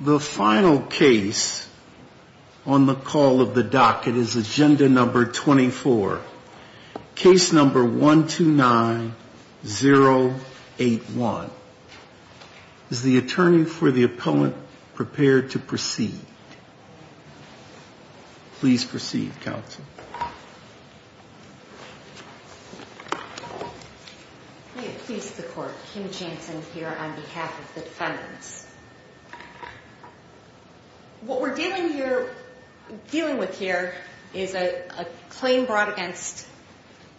The final case on the call of the docket is agenda number 24. Case number 129081. Is the attorney for the appellant prepared to proceed? Please proceed, counsel. May it please the court, Kim Jansen here on behalf of the defendants. What we're dealing with here is a claim brought against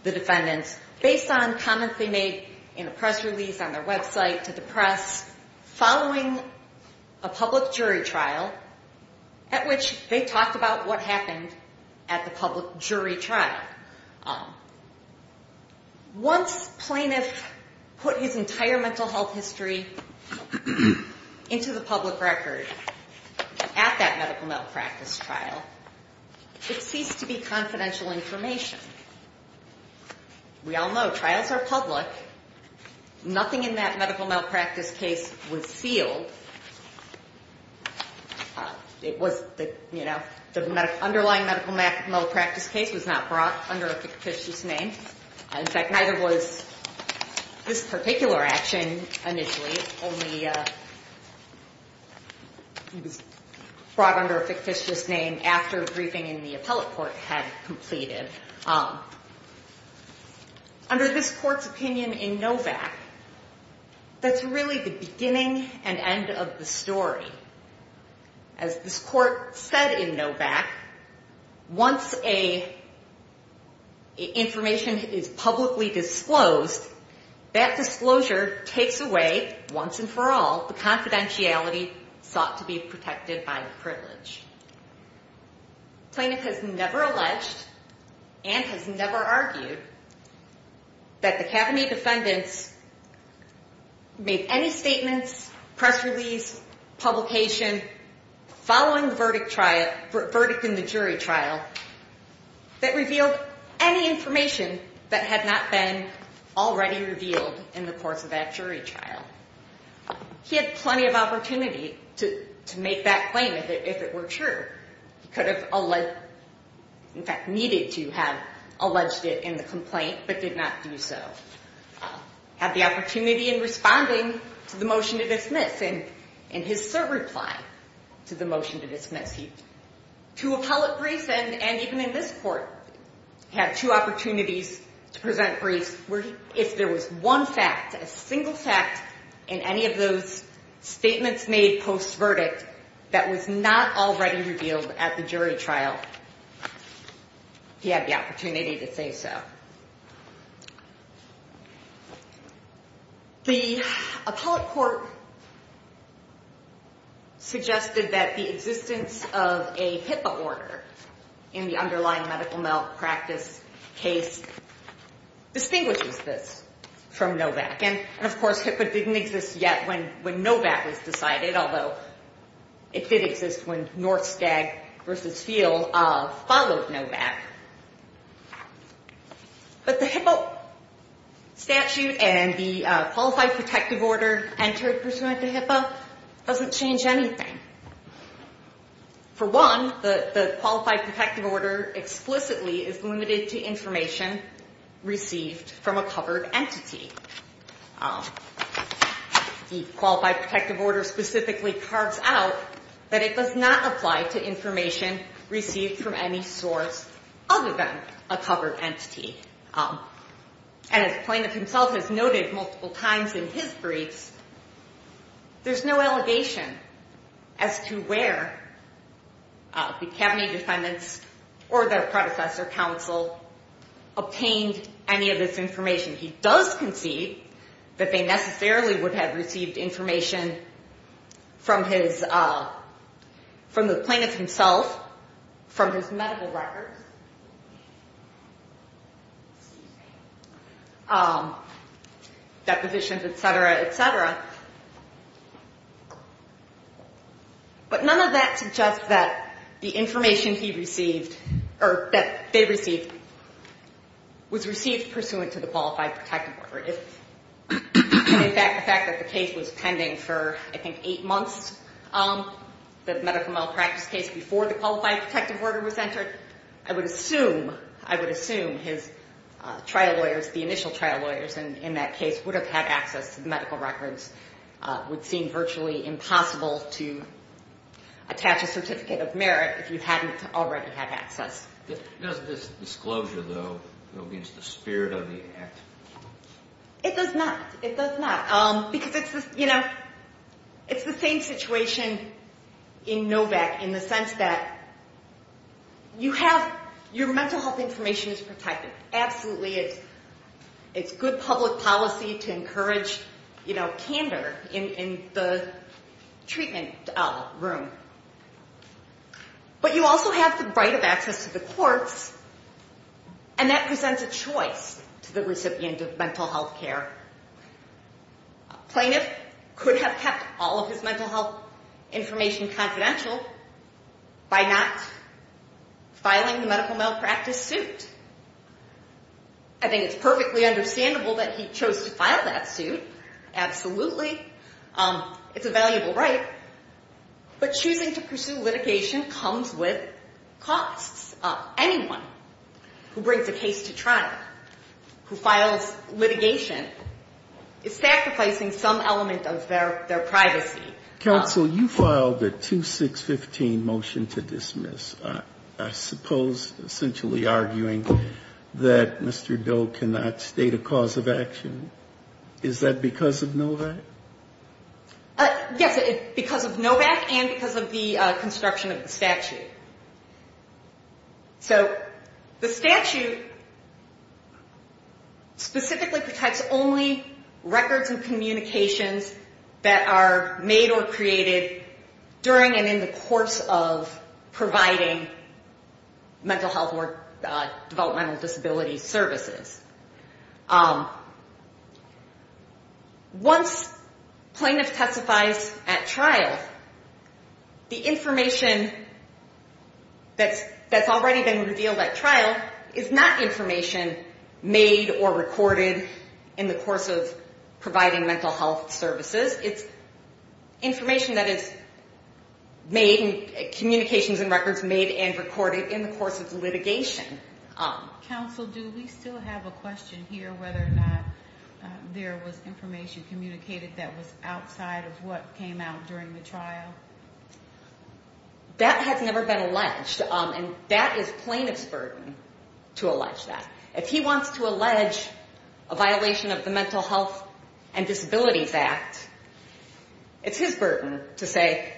the defendants based on comments they made in a press release on their website to the press following a public jury trial at which they talked about what happened at the public jury trial. Once plaintiff put his entire mental health history into the public record at that medical malpractice trial, it ceased to be confidential information. We all know trials are public. Nothing in that medical malpractice case was sealed. The underlying medical malpractice case was not brought under a fictitious name. In fact, neither was this particular action initially. It was brought under a fictitious name after a briefing in the appellate court had completed. Under this court's opinion in Novak, that's really the beginning and end of the story. As this court said in Novak, once information is publicly disclosed, that disclosure takes away, once and for all, the confidentiality sought to be protected by the privilege. Plaintiff has never alleged and has never argued that the academy defendants made any statements, press release, publication following the verdict in the jury trial that revealed any information that had not been already revealed in the course of that jury trial. He had plenty of opportunity to make that claim if it were true. He could have, in fact, needed to have alleged it in the complaint but did not do so. He had the opportunity in responding to the motion to dismiss and in his cert reply to the motion to dismiss. Two appellate briefs and even in this court had two opportunities to present briefs where if there was one fact, a single fact in any of those statements made post-verdict that was not already revealed at the jury trial, he had the opportunity to say so. The appellate court suggested that the existence of a HIPAA order in the underlying medical malpractice case distinguishes this from Novak. And, of course, HIPAA didn't exist yet when Novak was decided, although it did exist when Norskag v. Field followed Novak. But the HIPAA statute and the Qualified Protective Order entered pursuant to HIPAA doesn't change anything. For one, the Qualified Protective Order explicitly is limited to information received from a covered entity. The Qualified Protective Order specifically cards out that it does not apply to information received from any source other than a covered entity. And as plaintiff himself has noted multiple times in his briefs, there's no allegation as to where the cabinet defendants or their predecessor counsel obtained any of this information. He does concede that they necessarily would have received information from the plaintiff himself, from his medical records, depositions, et cetera, et cetera. But none of that suggests that the information he received or that they received was received pursuant to the Qualified Protective Order. In fact, the fact that the case was pending for, I think, eight months, the medical malpractice case, before the Qualified Protective Order was entered, I would assume his trial lawyers, the initial trial lawyers in that case, would have had access to the medical records, would seem virtually impossible. It would be impossible to attach a Certificate of Merit if you hadn't already had access. Does this disclosure, though, go against the spirit of the Act? It does not. It does not. Because it's, you know, it's the same situation in NOVAC in the sense that you have your mental health information is protected. Absolutely, it's good public policy to encourage, you know, candor in the treatment room. But you also have the right of access to the courts, and that presents a choice to the recipient of mental health care. A plaintiff could have kept all of his mental health information confidential by not filing the medical malpractice suit. I think it's perfectly understandable that he chose to file that suit. Absolutely. It's a valuable right. But choosing to pursue litigation comes with costs. Anyone who brings a case to trial, who files litigation, is sacrificing some element of their privacy. Counsel, you filed a 2615 motion to dismiss, I suppose essentially arguing that Mr. Doe cannot state a cause of action. Is that because of NOVAC? Yes, because of NOVAC and because of the construction of the statute. So the statute specifically protects only records and communications that are made or created during and in the course of providing mental health or developmental disability services. Once plaintiff testifies at trial, the information that's already been revealed at trial is not information made or recorded in the course of providing mental health services. It's information that is made, communications and records made and recorded in the course of litigation. Counsel, do we still have a question here whether or not there was information communicated that was outside of what came out during the trial? That has never been alleged and that is plaintiff's burden to allege that. If he wants to allege a violation of the Mental Health and Disabilities Act, it's his burden to say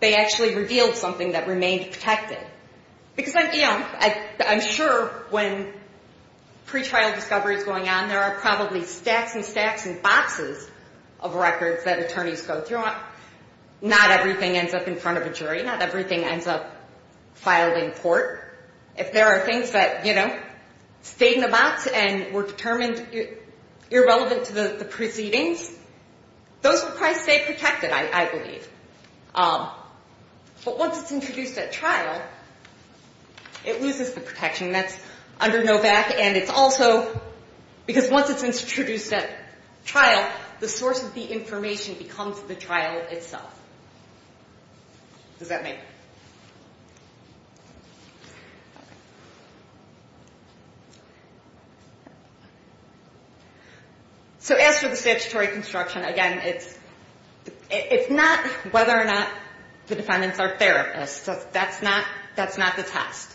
they actually revealed something that remained protected. I'm sure when pretrial discovery is going on, there are probably stacks and stacks and boxes of records that attorneys go through. Not everything ends up in front of a jury. Not everything ends up filed in court. If there are things that stayed in the box and were determined irrelevant to the proceedings, those will probably stay protected, I believe. But once it's introduced at trial, it loses the protection. That's under NOVAC and it's also because once it's introduced at trial, the source of the information becomes the trial itself. So as for the statutory construction, again, it's not whether or not the defendants are therapists. That's not the test.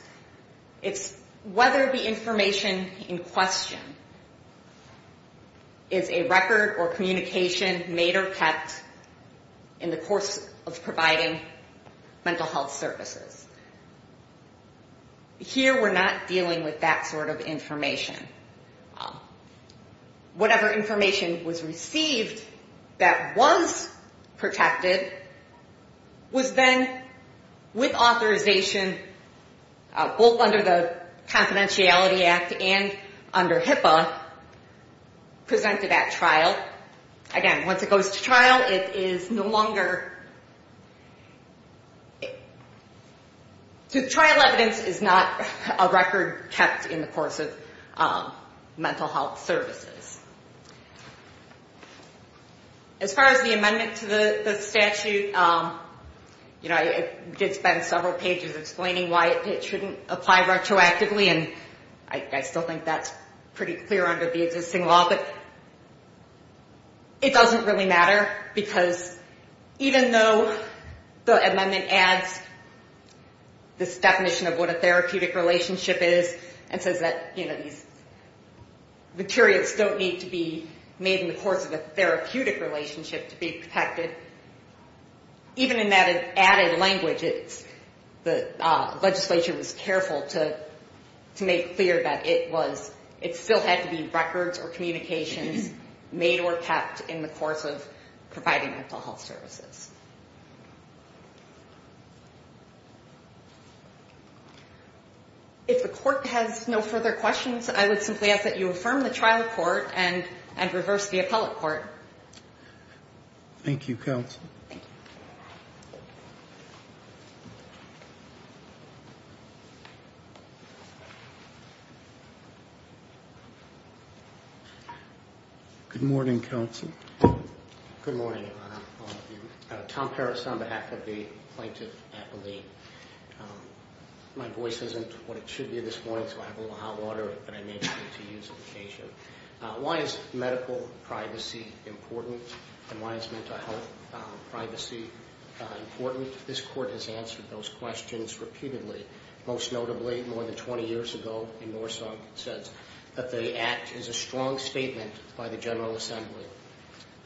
It's whether the information in question is a record or communication made or kept in the course of providing mental health services. Here, we're not dealing with that sort of information. Whatever information was received that was protected was then, with authorization, both under the Confidentiality Act and under HIPAA, presented at trial. But again, once it goes to trial, it is no longer... trial evidence is not a record kept in the course of mental health services. As far as the amendment to the statute, you know, I did spend several pages explaining why it shouldn't apply retroactively and I still think that's pretty clear under the existing law. But it doesn't really matter because even though the amendment adds this definition of what a therapeutic relationship is and says that, you know, these materials don't need to be made in the course of a therapeutic relationship to be protected, even in that added language, the legislature was careful to make clear that it was... it still had to be records or communications made or kept in the course of providing mental health services. If the court has no further questions, I would simply ask that you affirm the trial court and reverse the appellate court. Thank you, counsel. Good morning, counsel. Good morning, Your Honor, all of you. Tom Harris on behalf of the plaintiff appellee. My voice isn't what it should be this morning, so I have a little hot water that I may need to use on occasion. Why is medical privacy important and why is mental health privacy important? I think this court has answered those questions repeatedly, most notably more than 20 years ago in Norson says that the act is a strong statement by the General Assembly.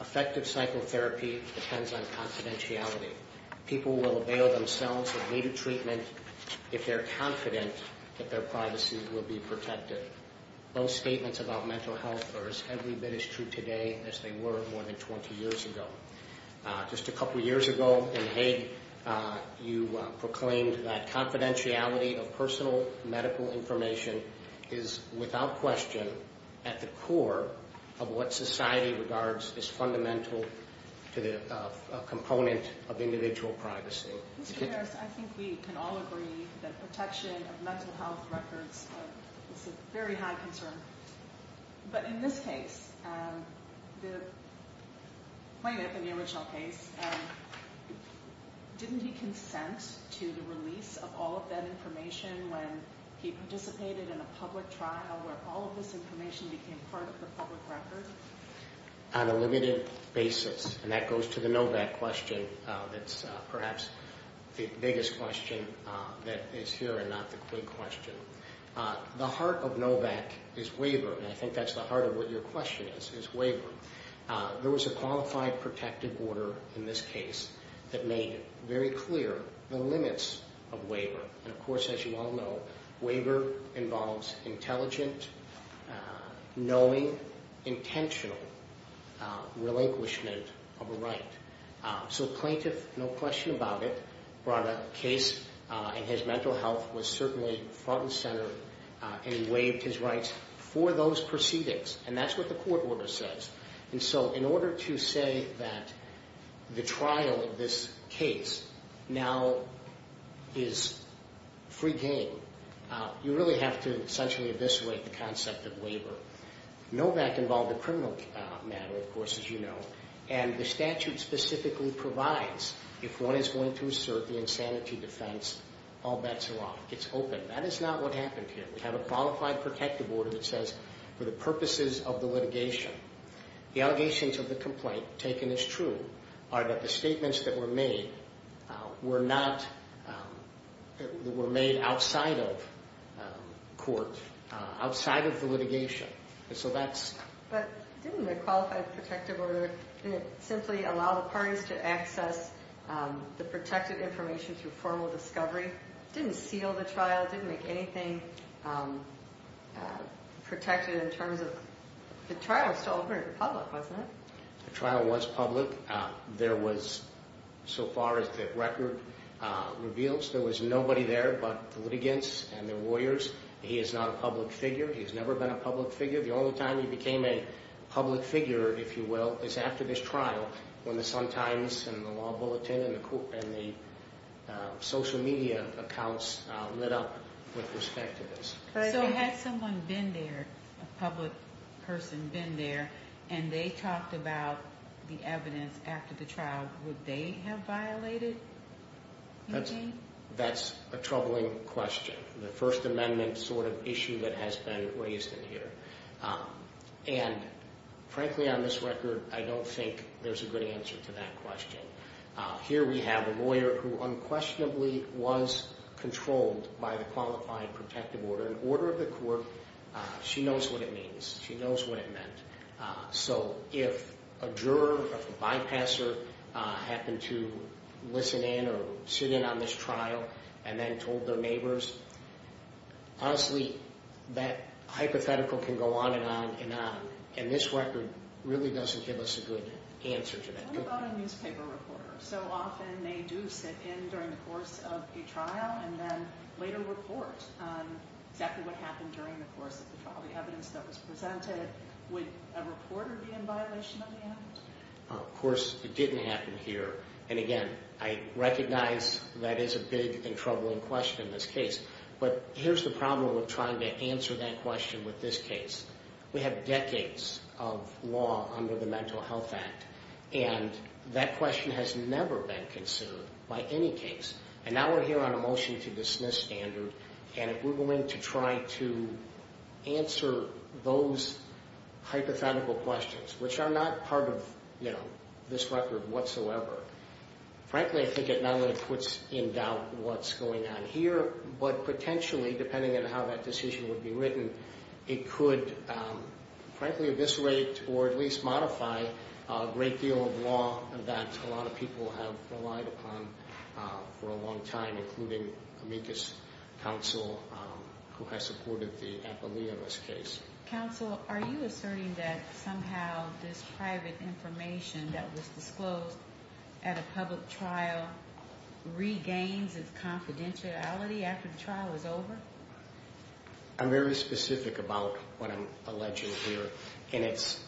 Effective psychotherapy depends on confidentiality. People will avail themselves of needed treatment if they're confident that their privacy will be protected. Those statements about mental health are as heavy as true today as they were more than 20 years ago. Just a couple of years ago in Hague, you proclaimed that confidentiality of personal medical information is without question at the core of what society regards as fundamental to the component of individual privacy. Mr. Harris, I think we can all agree that protection of mental health records is a very high concern. But in this case, the plaintiff in the original case, didn't he consent to the release of all of that information when he participated in a public trial where all of this information became part of the public record? On a limited basis, and that goes to the Novak question that's perhaps the biggest question that is here and not the quick question. The heart of Novak is waiver, and I think that's the heart of what your question is, is waiver. There was a qualified protective order in this case that made very clear the limits of waiver. And of course, as you all know, waiver involves intelligent, knowing, intentional relinquishment of a right. So plaintiff, no question about it, brought a case and his mental health was certainly front and center and he waived his rights for those proceedings. And that's what the court order says. And so in order to say that the trial of this case now is free game, you really have to essentially eviscerate the concept of waiver. Novak involved a criminal matter, of course, as you know. And the statute specifically provides if one is going to assert the insanity defense, all bets are off. It's open. That is not what happened here. We have a qualified protective order that says for the purposes of the litigation, the allegations of the complaint taken as true are that the statements that were made were made outside of court, outside of the litigation. So that's... But didn't the qualified protective order simply allow the parties to access the protected information through formal discovery? Didn't seal the trial, didn't make anything protected in terms of... The trial was public. There was, so far as the record reveals, there was nobody there but the litigants and their lawyers. He is not a public figure. He has never been a public figure. The only time he became a public figure, if you will, is after this trial when the Sun Times and the Law Bulletin and the social media accounts lit up with respect to this. So had someone been there, a public person been there, and they talked about the evidence after the trial, would they have violated? That's a troubling question. The First Amendment sort of issue that has been raised in here. And frankly, on this record, I don't think there's a good answer to that question. Here we have a lawyer who unquestionably was controlled by the qualified protective order. In order of the court, she knows what it means. She knows what it meant. So if a juror or a bypasser happened to listen in or sit in on this trial and then told their neighbors, honestly, that hypothetical can go on and on and on. And this record really doesn't give us a good answer to that. What about a newspaper reporter? So often they do sit in during the course of a trial and then later report on exactly what happened during the course of the trial. The evidence that was presented, would a reporter be in violation of the act? Of course, it didn't happen here. And again, I recognize that is a big and troubling question in this case. But here's the problem with trying to answer that question with this case. We have decades of law under the Mental Health Act, and that question has never been considered by any case. And now we're here on a motion to dismiss standard. And if we're going to try to answer those hypothetical questions, which are not part of this record whatsoever, frankly, I think it not only puts in doubt what's going on here, but potentially, depending on how that decision would be written, it could frankly eviscerate or at least modify a great deal of law that a lot of people have relied upon for a long time, including Amicus Counsel, who has supported the Appalachian case. Judge, counsel, are you asserting that somehow this private information that was disclosed at a public trial regains its confidentiality after the trial is over? I'm very specific about what I'm alleging here. And it's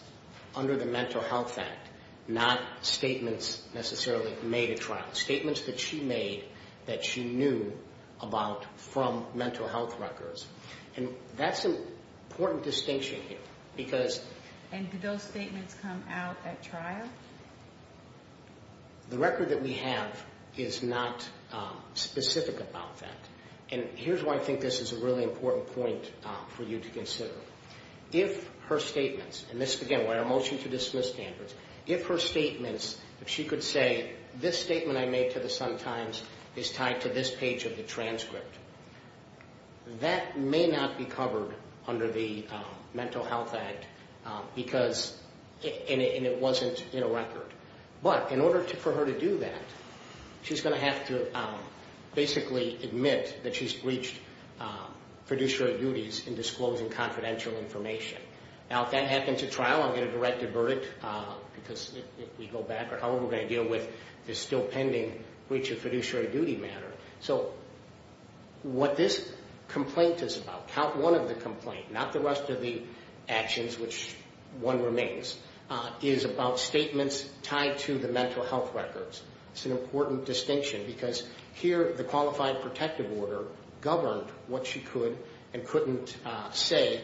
under the Mental Health Act, not statements necessarily made at trial. Statements that she made that she knew about from mental health records. And that's an important distinction here. And do those statements come out at trial? The record that we have is not specific about that. And here's why I think this is a really important point for you to consider. If her statements, and this, again, we're at a motion to dismiss standards, if her statements, if she could say this statement I made to the Sun-Times is tied to this page of the transcript, that may not be covered under the Mental Health Act, and it wasn't in a record. But in order for her to do that, she's going to have to basically admit that she's breached fiduciary duties in disclosing confidential information. Now, if that happens at trial, I'm going to direct a verdict, because if we go back, or however we're going to deal with this still pending breach of fiduciary duty matter. So what this complaint is about, count one of the complaints, not the rest of the actions, which one remains, is about statements tied to the mental health records. It's an important distinction, because here the Qualified Protective Order governed what she could and couldn't say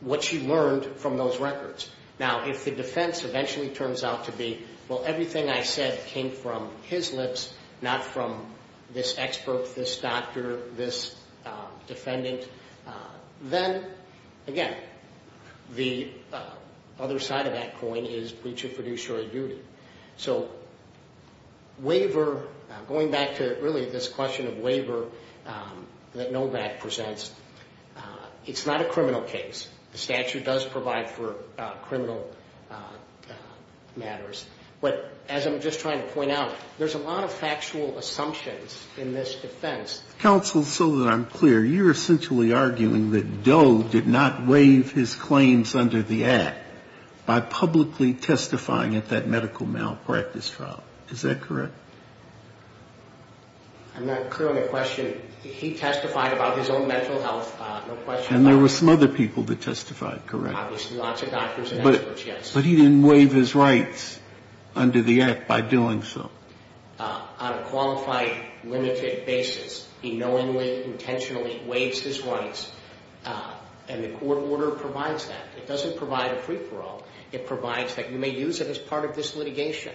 what she learned from those records. Now, if the defense eventually turns out to be, well, everything I said came from his lips, not from this expert, this doctor, this defendant, then, again, the other side of that coin is breach of fiduciary duty. So waiver, going back to really this question of waiver that Novak presents, it's not a criminal case. The statute does provide for criminal matters. But as I'm just trying to point out, there's a lot of factual assumptions in this defense. Counsel, so that I'm clear, you're essentially arguing that Doe did not waive his claims under the Act by publicly testifying at that medical malpractice trial. Is that correct? I'm not clear on the question. He testified about his own mental health, no question about that. And there were some other people that testified, correct? Obviously, lots of doctors and experts, yes. But he didn't waive his rights under the Act by doing so. On a qualified, limited basis, he knowingly, intentionally waives his rights. And the court order provides that. It doesn't provide a free-for-all. It provides that you may use it as part of this litigation.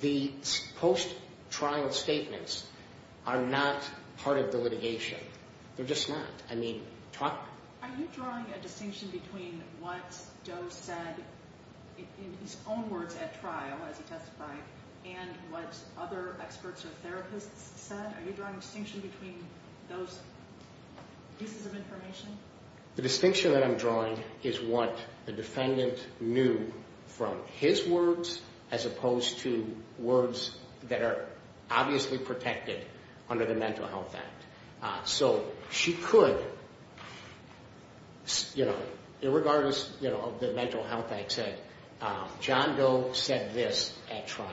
The post-trial statements are not part of the litigation. They're just not. Are you drawing a distinction between what Doe said in his own words at trial as he testified and what other experts or therapists said? Are you drawing a distinction between those pieces of information? The distinction that I'm drawing is what the defendant knew from his words as opposed to words that are obviously protected under the Mental Health Act. So she could, you know, irregardless of the Mental Health Act said, John Doe said this at trial.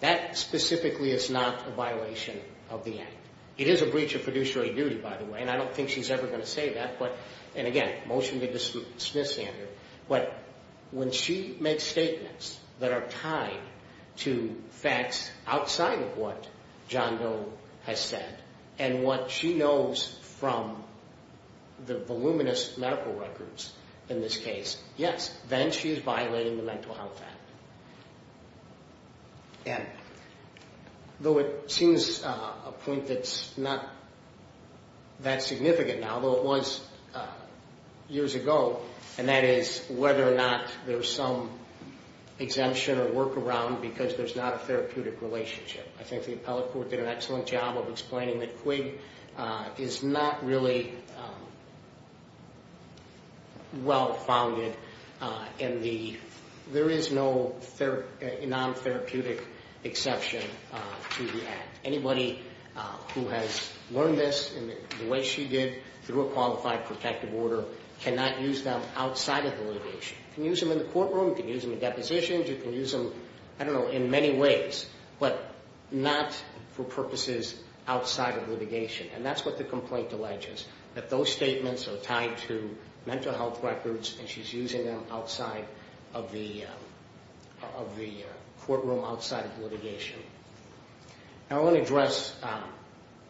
That specifically is not a violation of the Act. It is a breach of fiduciary duty, by the way, and I don't think she's ever going to say that. And again, motion to dismiss, Andrew. But when she makes statements that are tied to facts outside of what John Doe has said and what she knows from the voluminous medical records in this case, yes, then she is violating the Mental Health Act. And though it seems a point that's not that significant now, though it was years ago, and that is whether or not there's some exemption or workaround because there's not a therapeutic relationship. I think the appellate court did an excellent job of explaining that QUIG is not really well-founded and there is no non-therapeutic exception to the Act. Anybody who has learned this in the way she did through a qualified protective order cannot use them outside of the litigation. You can use them in the courtroom. You can use them in depositions. You can use them, I don't know, in many ways, but not for purposes outside of litigation. And that's what the complaint alleges, that those statements are tied to mental health records and she's using them outside of the courtroom, outside of litigation. I want to address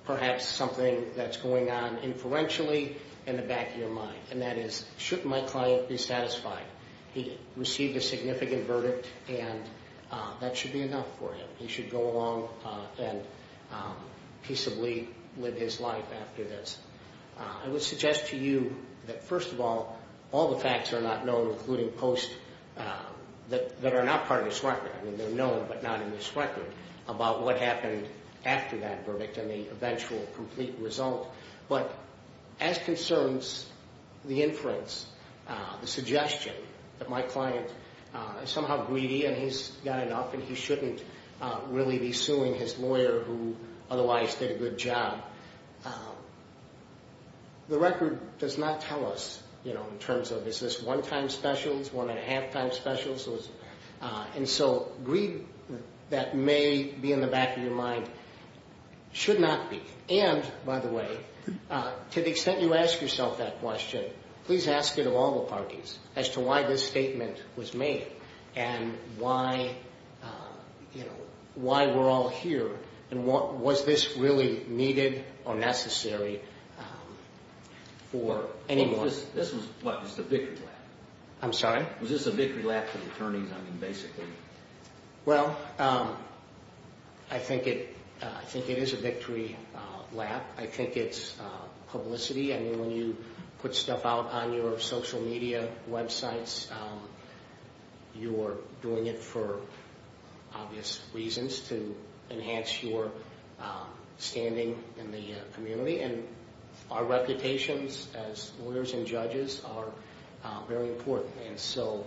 perhaps something that's going on inferentially in the back of your mind, and that is, should my client be satisfied? He received a significant verdict and that should be enough for him. He should go along and peaceably live his life after this. I would suggest to you that, first of all, all the facts are not known, including posts that are not part of this record. I mean, they're known, but not in this record, about what happened after that verdict and the eventual complete result. But as concerns the inference, the suggestion that my client is somehow greedy and he's got enough and he shouldn't really be suing his lawyer who otherwise did a good job, the record does not tell us, you know, in terms of is this one-time specials, one-and-a-half-time specials. And so greed that may be in the back of your mind should not be. And, by the way, to the extent you ask yourself that question, please ask it of all the parties as to why this statement was made. And why, you know, why we're all here and was this really needed or necessary for anyone? This was, what, just a victory lap? I'm sorry? Was this a victory lap for the attorneys, I mean, basically? Well, I think it is a victory lap. I think it's publicity. I mean, when you put stuff out on your social media websites, you're doing it for obvious reasons to enhance your standing in the community. And our reputations as lawyers and judges are very important. And so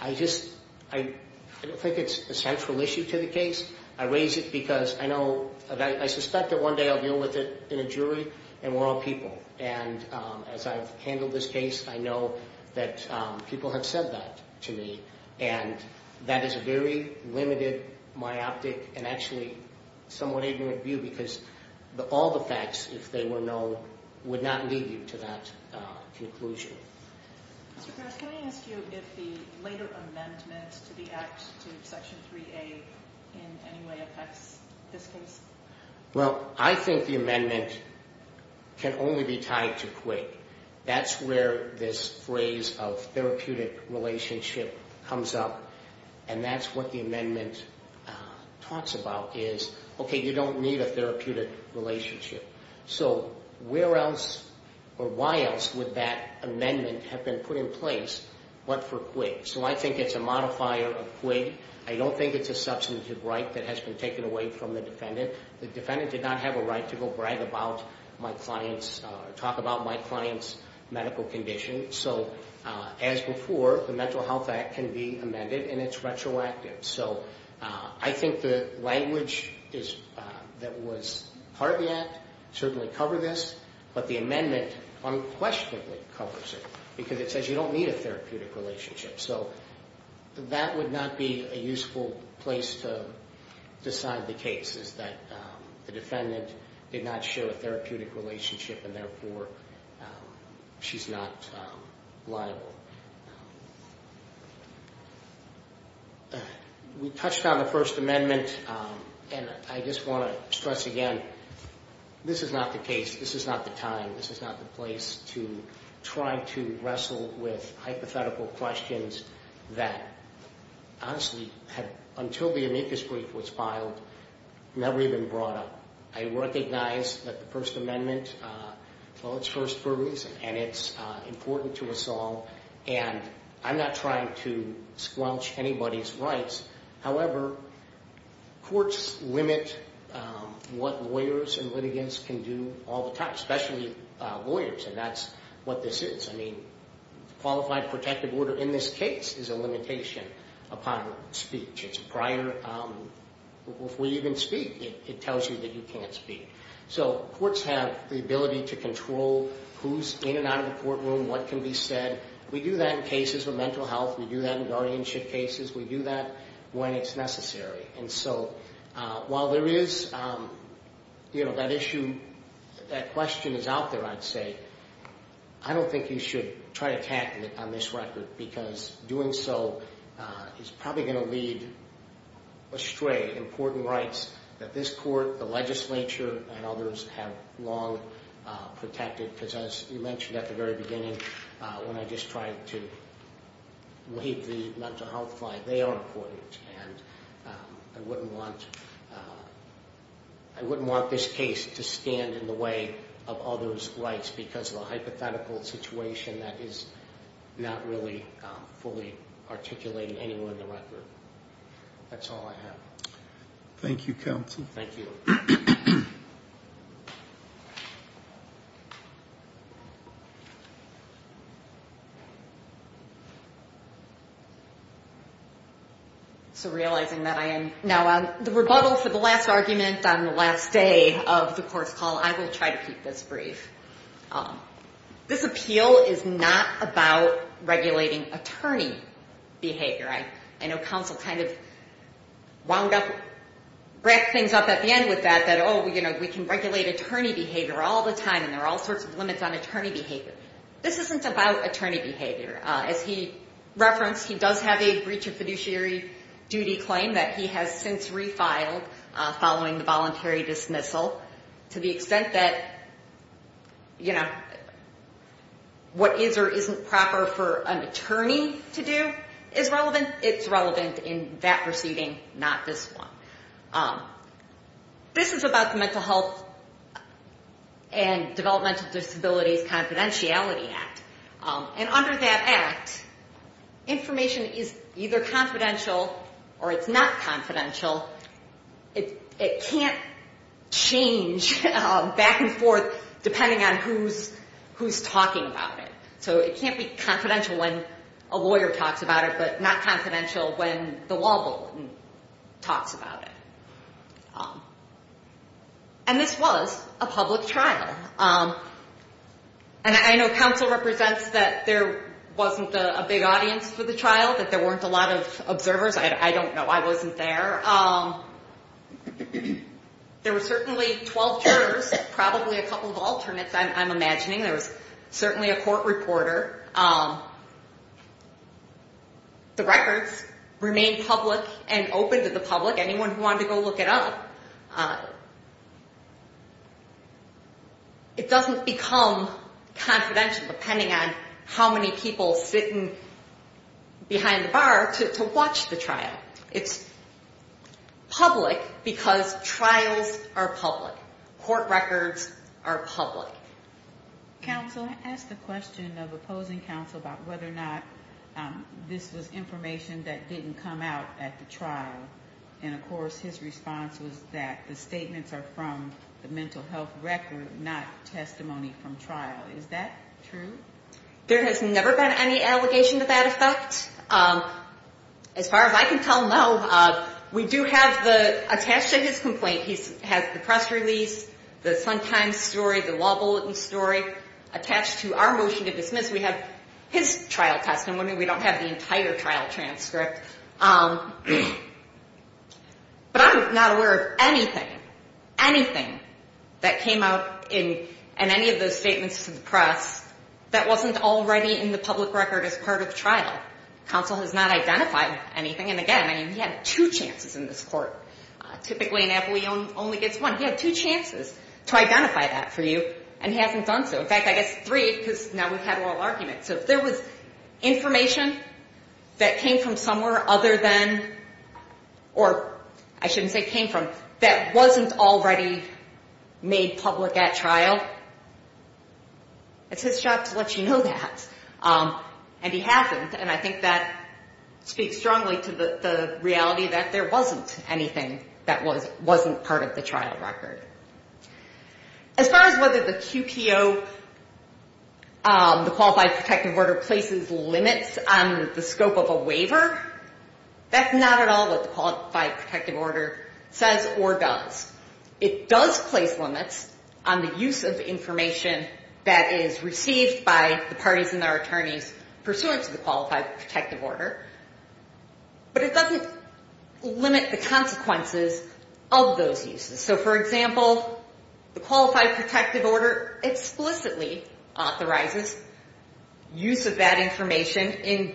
I just, I don't think it's a central issue to the case. I raise it because I know, I suspect that one day I'll deal with it in a jury, and we're all people. And as I've handled this case, I know that people have said that to me. And that is a very limited, myopic, and actually somewhat ignorant view because all the facts, if they were known, would not lead you to that conclusion. Mr. Pierce, can I ask you if the later amendment to the Act to Section 3A in any way affects this case? Well, I think the amendment can only be tied to quid. That's where this phrase of therapeutic relationship comes up, and that's what the amendment talks about is, okay, you don't need a therapeutic relationship. So where else or why else would that amendment have been put in place but for quid? So I think it's a modifier of quid. I don't think it's a substantive right that has been taken away from the defendant. The defendant did not have a right to go brag about my client's, talk about my client's medical condition. So as before, the Mental Health Act can be amended, and it's retroactive. So I think the language that was part of the Act certainly covered this, but the amendment unquestionably covers it because it says you don't need a therapeutic relationship. So that would not be a useful place to decide the case, is that the defendant did not share a therapeutic relationship, and therefore she's not liable. We touched on the First Amendment, and I just want to stress again, this is not the case. This is not the time. This is not the place to try to wrestle with hypothetical questions that, honestly, until the amicus brief was filed, never even brought up. I recognize that the First Amendment, well, it's first for a reason, and it's important to us all, and I'm not trying to squelch anybody's rights. However, courts limit what lawyers and litigants can do all the time, especially lawyers, and that's what this is. I mean, qualified protective order in this case is a limitation upon speech. It's prior. If we even speak, it tells you that you can't speak. So courts have the ability to control who's in and out of the courtroom, what can be said. We do that in cases of mental health. We do that in guardianship cases. We do that when it's necessary. And so while there is that issue, that question is out there, I'd say, I don't think you should try to tackle it on this record because doing so is probably going to lead astray important rights that this court, the legislature, and others have long protected because, as you mentioned at the very beginning, when I just tried to waive the mental health line, they are important, and I wouldn't want this case to stand in the way of others' rights because of a hypothetical situation that is not really fully articulated anywhere in the record. That's all I have. Thank you, counsel. Thank you. So realizing that I am now on the rebuttal for the last argument on the last day of the court's call, I will try to keep this brief. This appeal is not about regulating attorney behavior. I know counsel kind of wound up, racked things up at the end with that, that, oh, you know, we can regulate attorney behavior all the time, and there are all sorts of limits on attorney behavior. This isn't about attorney behavior. As he referenced, he does have a breach of fiduciary duty claim that he has since refiled following the voluntary dismissal to the extent that, you know, what is or isn't proper for an attorney to do is relevant. It's relevant in that proceeding, not this one. This is about the Mental Health and Developmental Disabilities Confidentiality Act, and under that act, information is either confidential or it's not confidential. It can't change back and forth depending on who's talking about it. So it can't be confidential when a lawyer talks about it, but not confidential when the law bulletin talks about it. And this was a public trial, and I know counsel represents that there wasn't a big audience for the trial, that there weren't a lot of observers. I don't know. I wasn't there. There were certainly 12 jurors, probably a couple of alternates, I'm imagining. There was certainly a court reporter. The records remained public and open to the public, anyone who wanted to go look it up. It doesn't become confidential depending on how many people sitting behind the bar to watch the trial. It's public because trials are public. Court records are public. Counsel, I asked a question of opposing counsel about whether or not this was information that didn't come out at the trial, and of course his response was that the statements are from the mental health record, not testimony from trial. Is that true? There has never been any allegation to that effect. As far as I can tell, no. We do have the, attached to his complaint, he has the press release, the Sun Times story, the law bulletin story, attached to our motion to dismiss, we have his trial testimony. We don't have the entire trial transcript. But I'm not aware of anything, anything that came out in any of those statements to the press that wasn't already in the public record as part of the trial. Counsel has not identified anything. And again, he had two chances in this court. Typically an appellee only gets one. He had two chances to identify that for you, and he hasn't done so. In fact, I guess three because now we've had oral arguments. So if there was information that came from somewhere other than, or I shouldn't say came from, that wasn't already made public at trial, it's his job to let you know that. And he hasn't. And I think that speaks strongly to the reality that there wasn't anything that wasn't part of the trial record. As far as whether the QPO, the Qualified Protective Order, places limits on the scope of a waiver, that's not at all what the Qualified Protective Order says or does. It does place limits on the use of information that is received by the parties and their attorneys pursuant to the Qualified Protective Order. But it doesn't limit the consequences of those uses. So, for example, the Qualified Protective Order explicitly authorizes use of that information in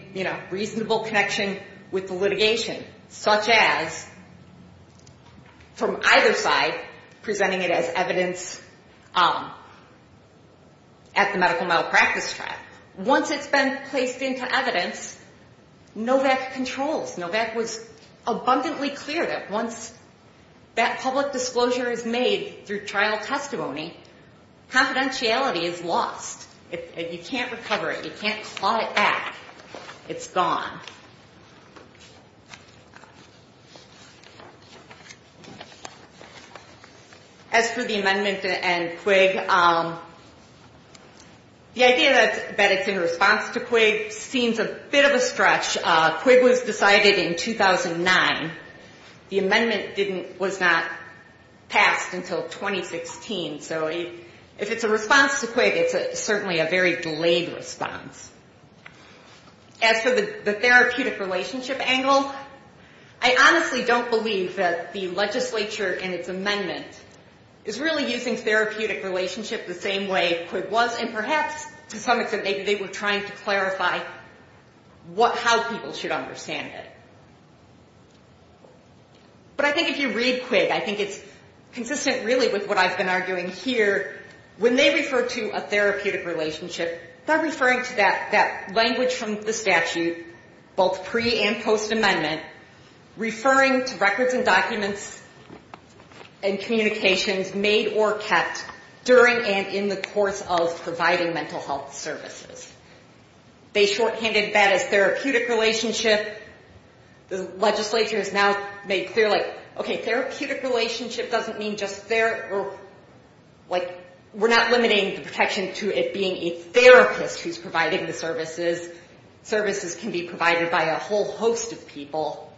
reasonable connection with the litigation, such as from either side presenting it as evidence at the medical malpractice trial. Once it's been placed into evidence, NOVAC controls. NOVAC was abundantly clear that once that public disclosure is made through trial testimony, confidentiality is lost. You can't recover it. You can't claw it back. It's gone. As for the amendment and Quig, the idea that it's in response to Quig seems a bit of a stretch. Quig was decided in 2009. The amendment was not passed until 2016. So if it's a response to Quig, it's certainly a very delayed response. As for the therapeutic relationship angle, I honestly don't believe that the legislature and its amendment is really using therapeutic relationship the same way Quig was, and perhaps to some extent maybe they were trying to clarify how people should understand it. But I think if you read Quig, I think it's consistent really with what I've been arguing here. When they refer to a therapeutic relationship, they're referring to that language from the statute, both pre- and post-amendment, referring to records and documents and communications made or kept during and in the course of providing mental health services. They shorthanded that as therapeutic relationship. The legislature has now made clear, like, okay, therapeutic relationship doesn't mean just therapy. Like, we're not limiting the protection to it being a therapist who's providing the services. Services can be provided by a whole host of people.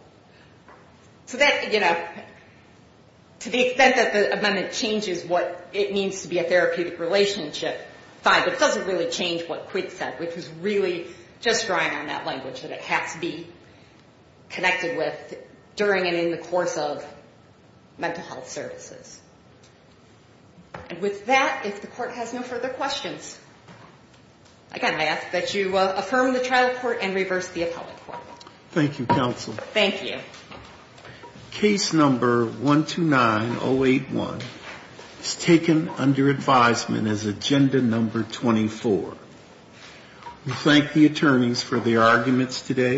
So that, you know, to the extent that the amendment changes what it means to be a therapeutic relationship, fine. But it doesn't really change what Quig said, which is really just drawing on that language that it has to be connected with during and in the course of mental health services. And with that, if the Court has no further questions, again, I ask that you affirm the trial report and reverse the appellate court. Thank you, counsel. Thank you. Case number 129081 is taken under advisement as agenda number 24. We thank the attorneys for their arguments today.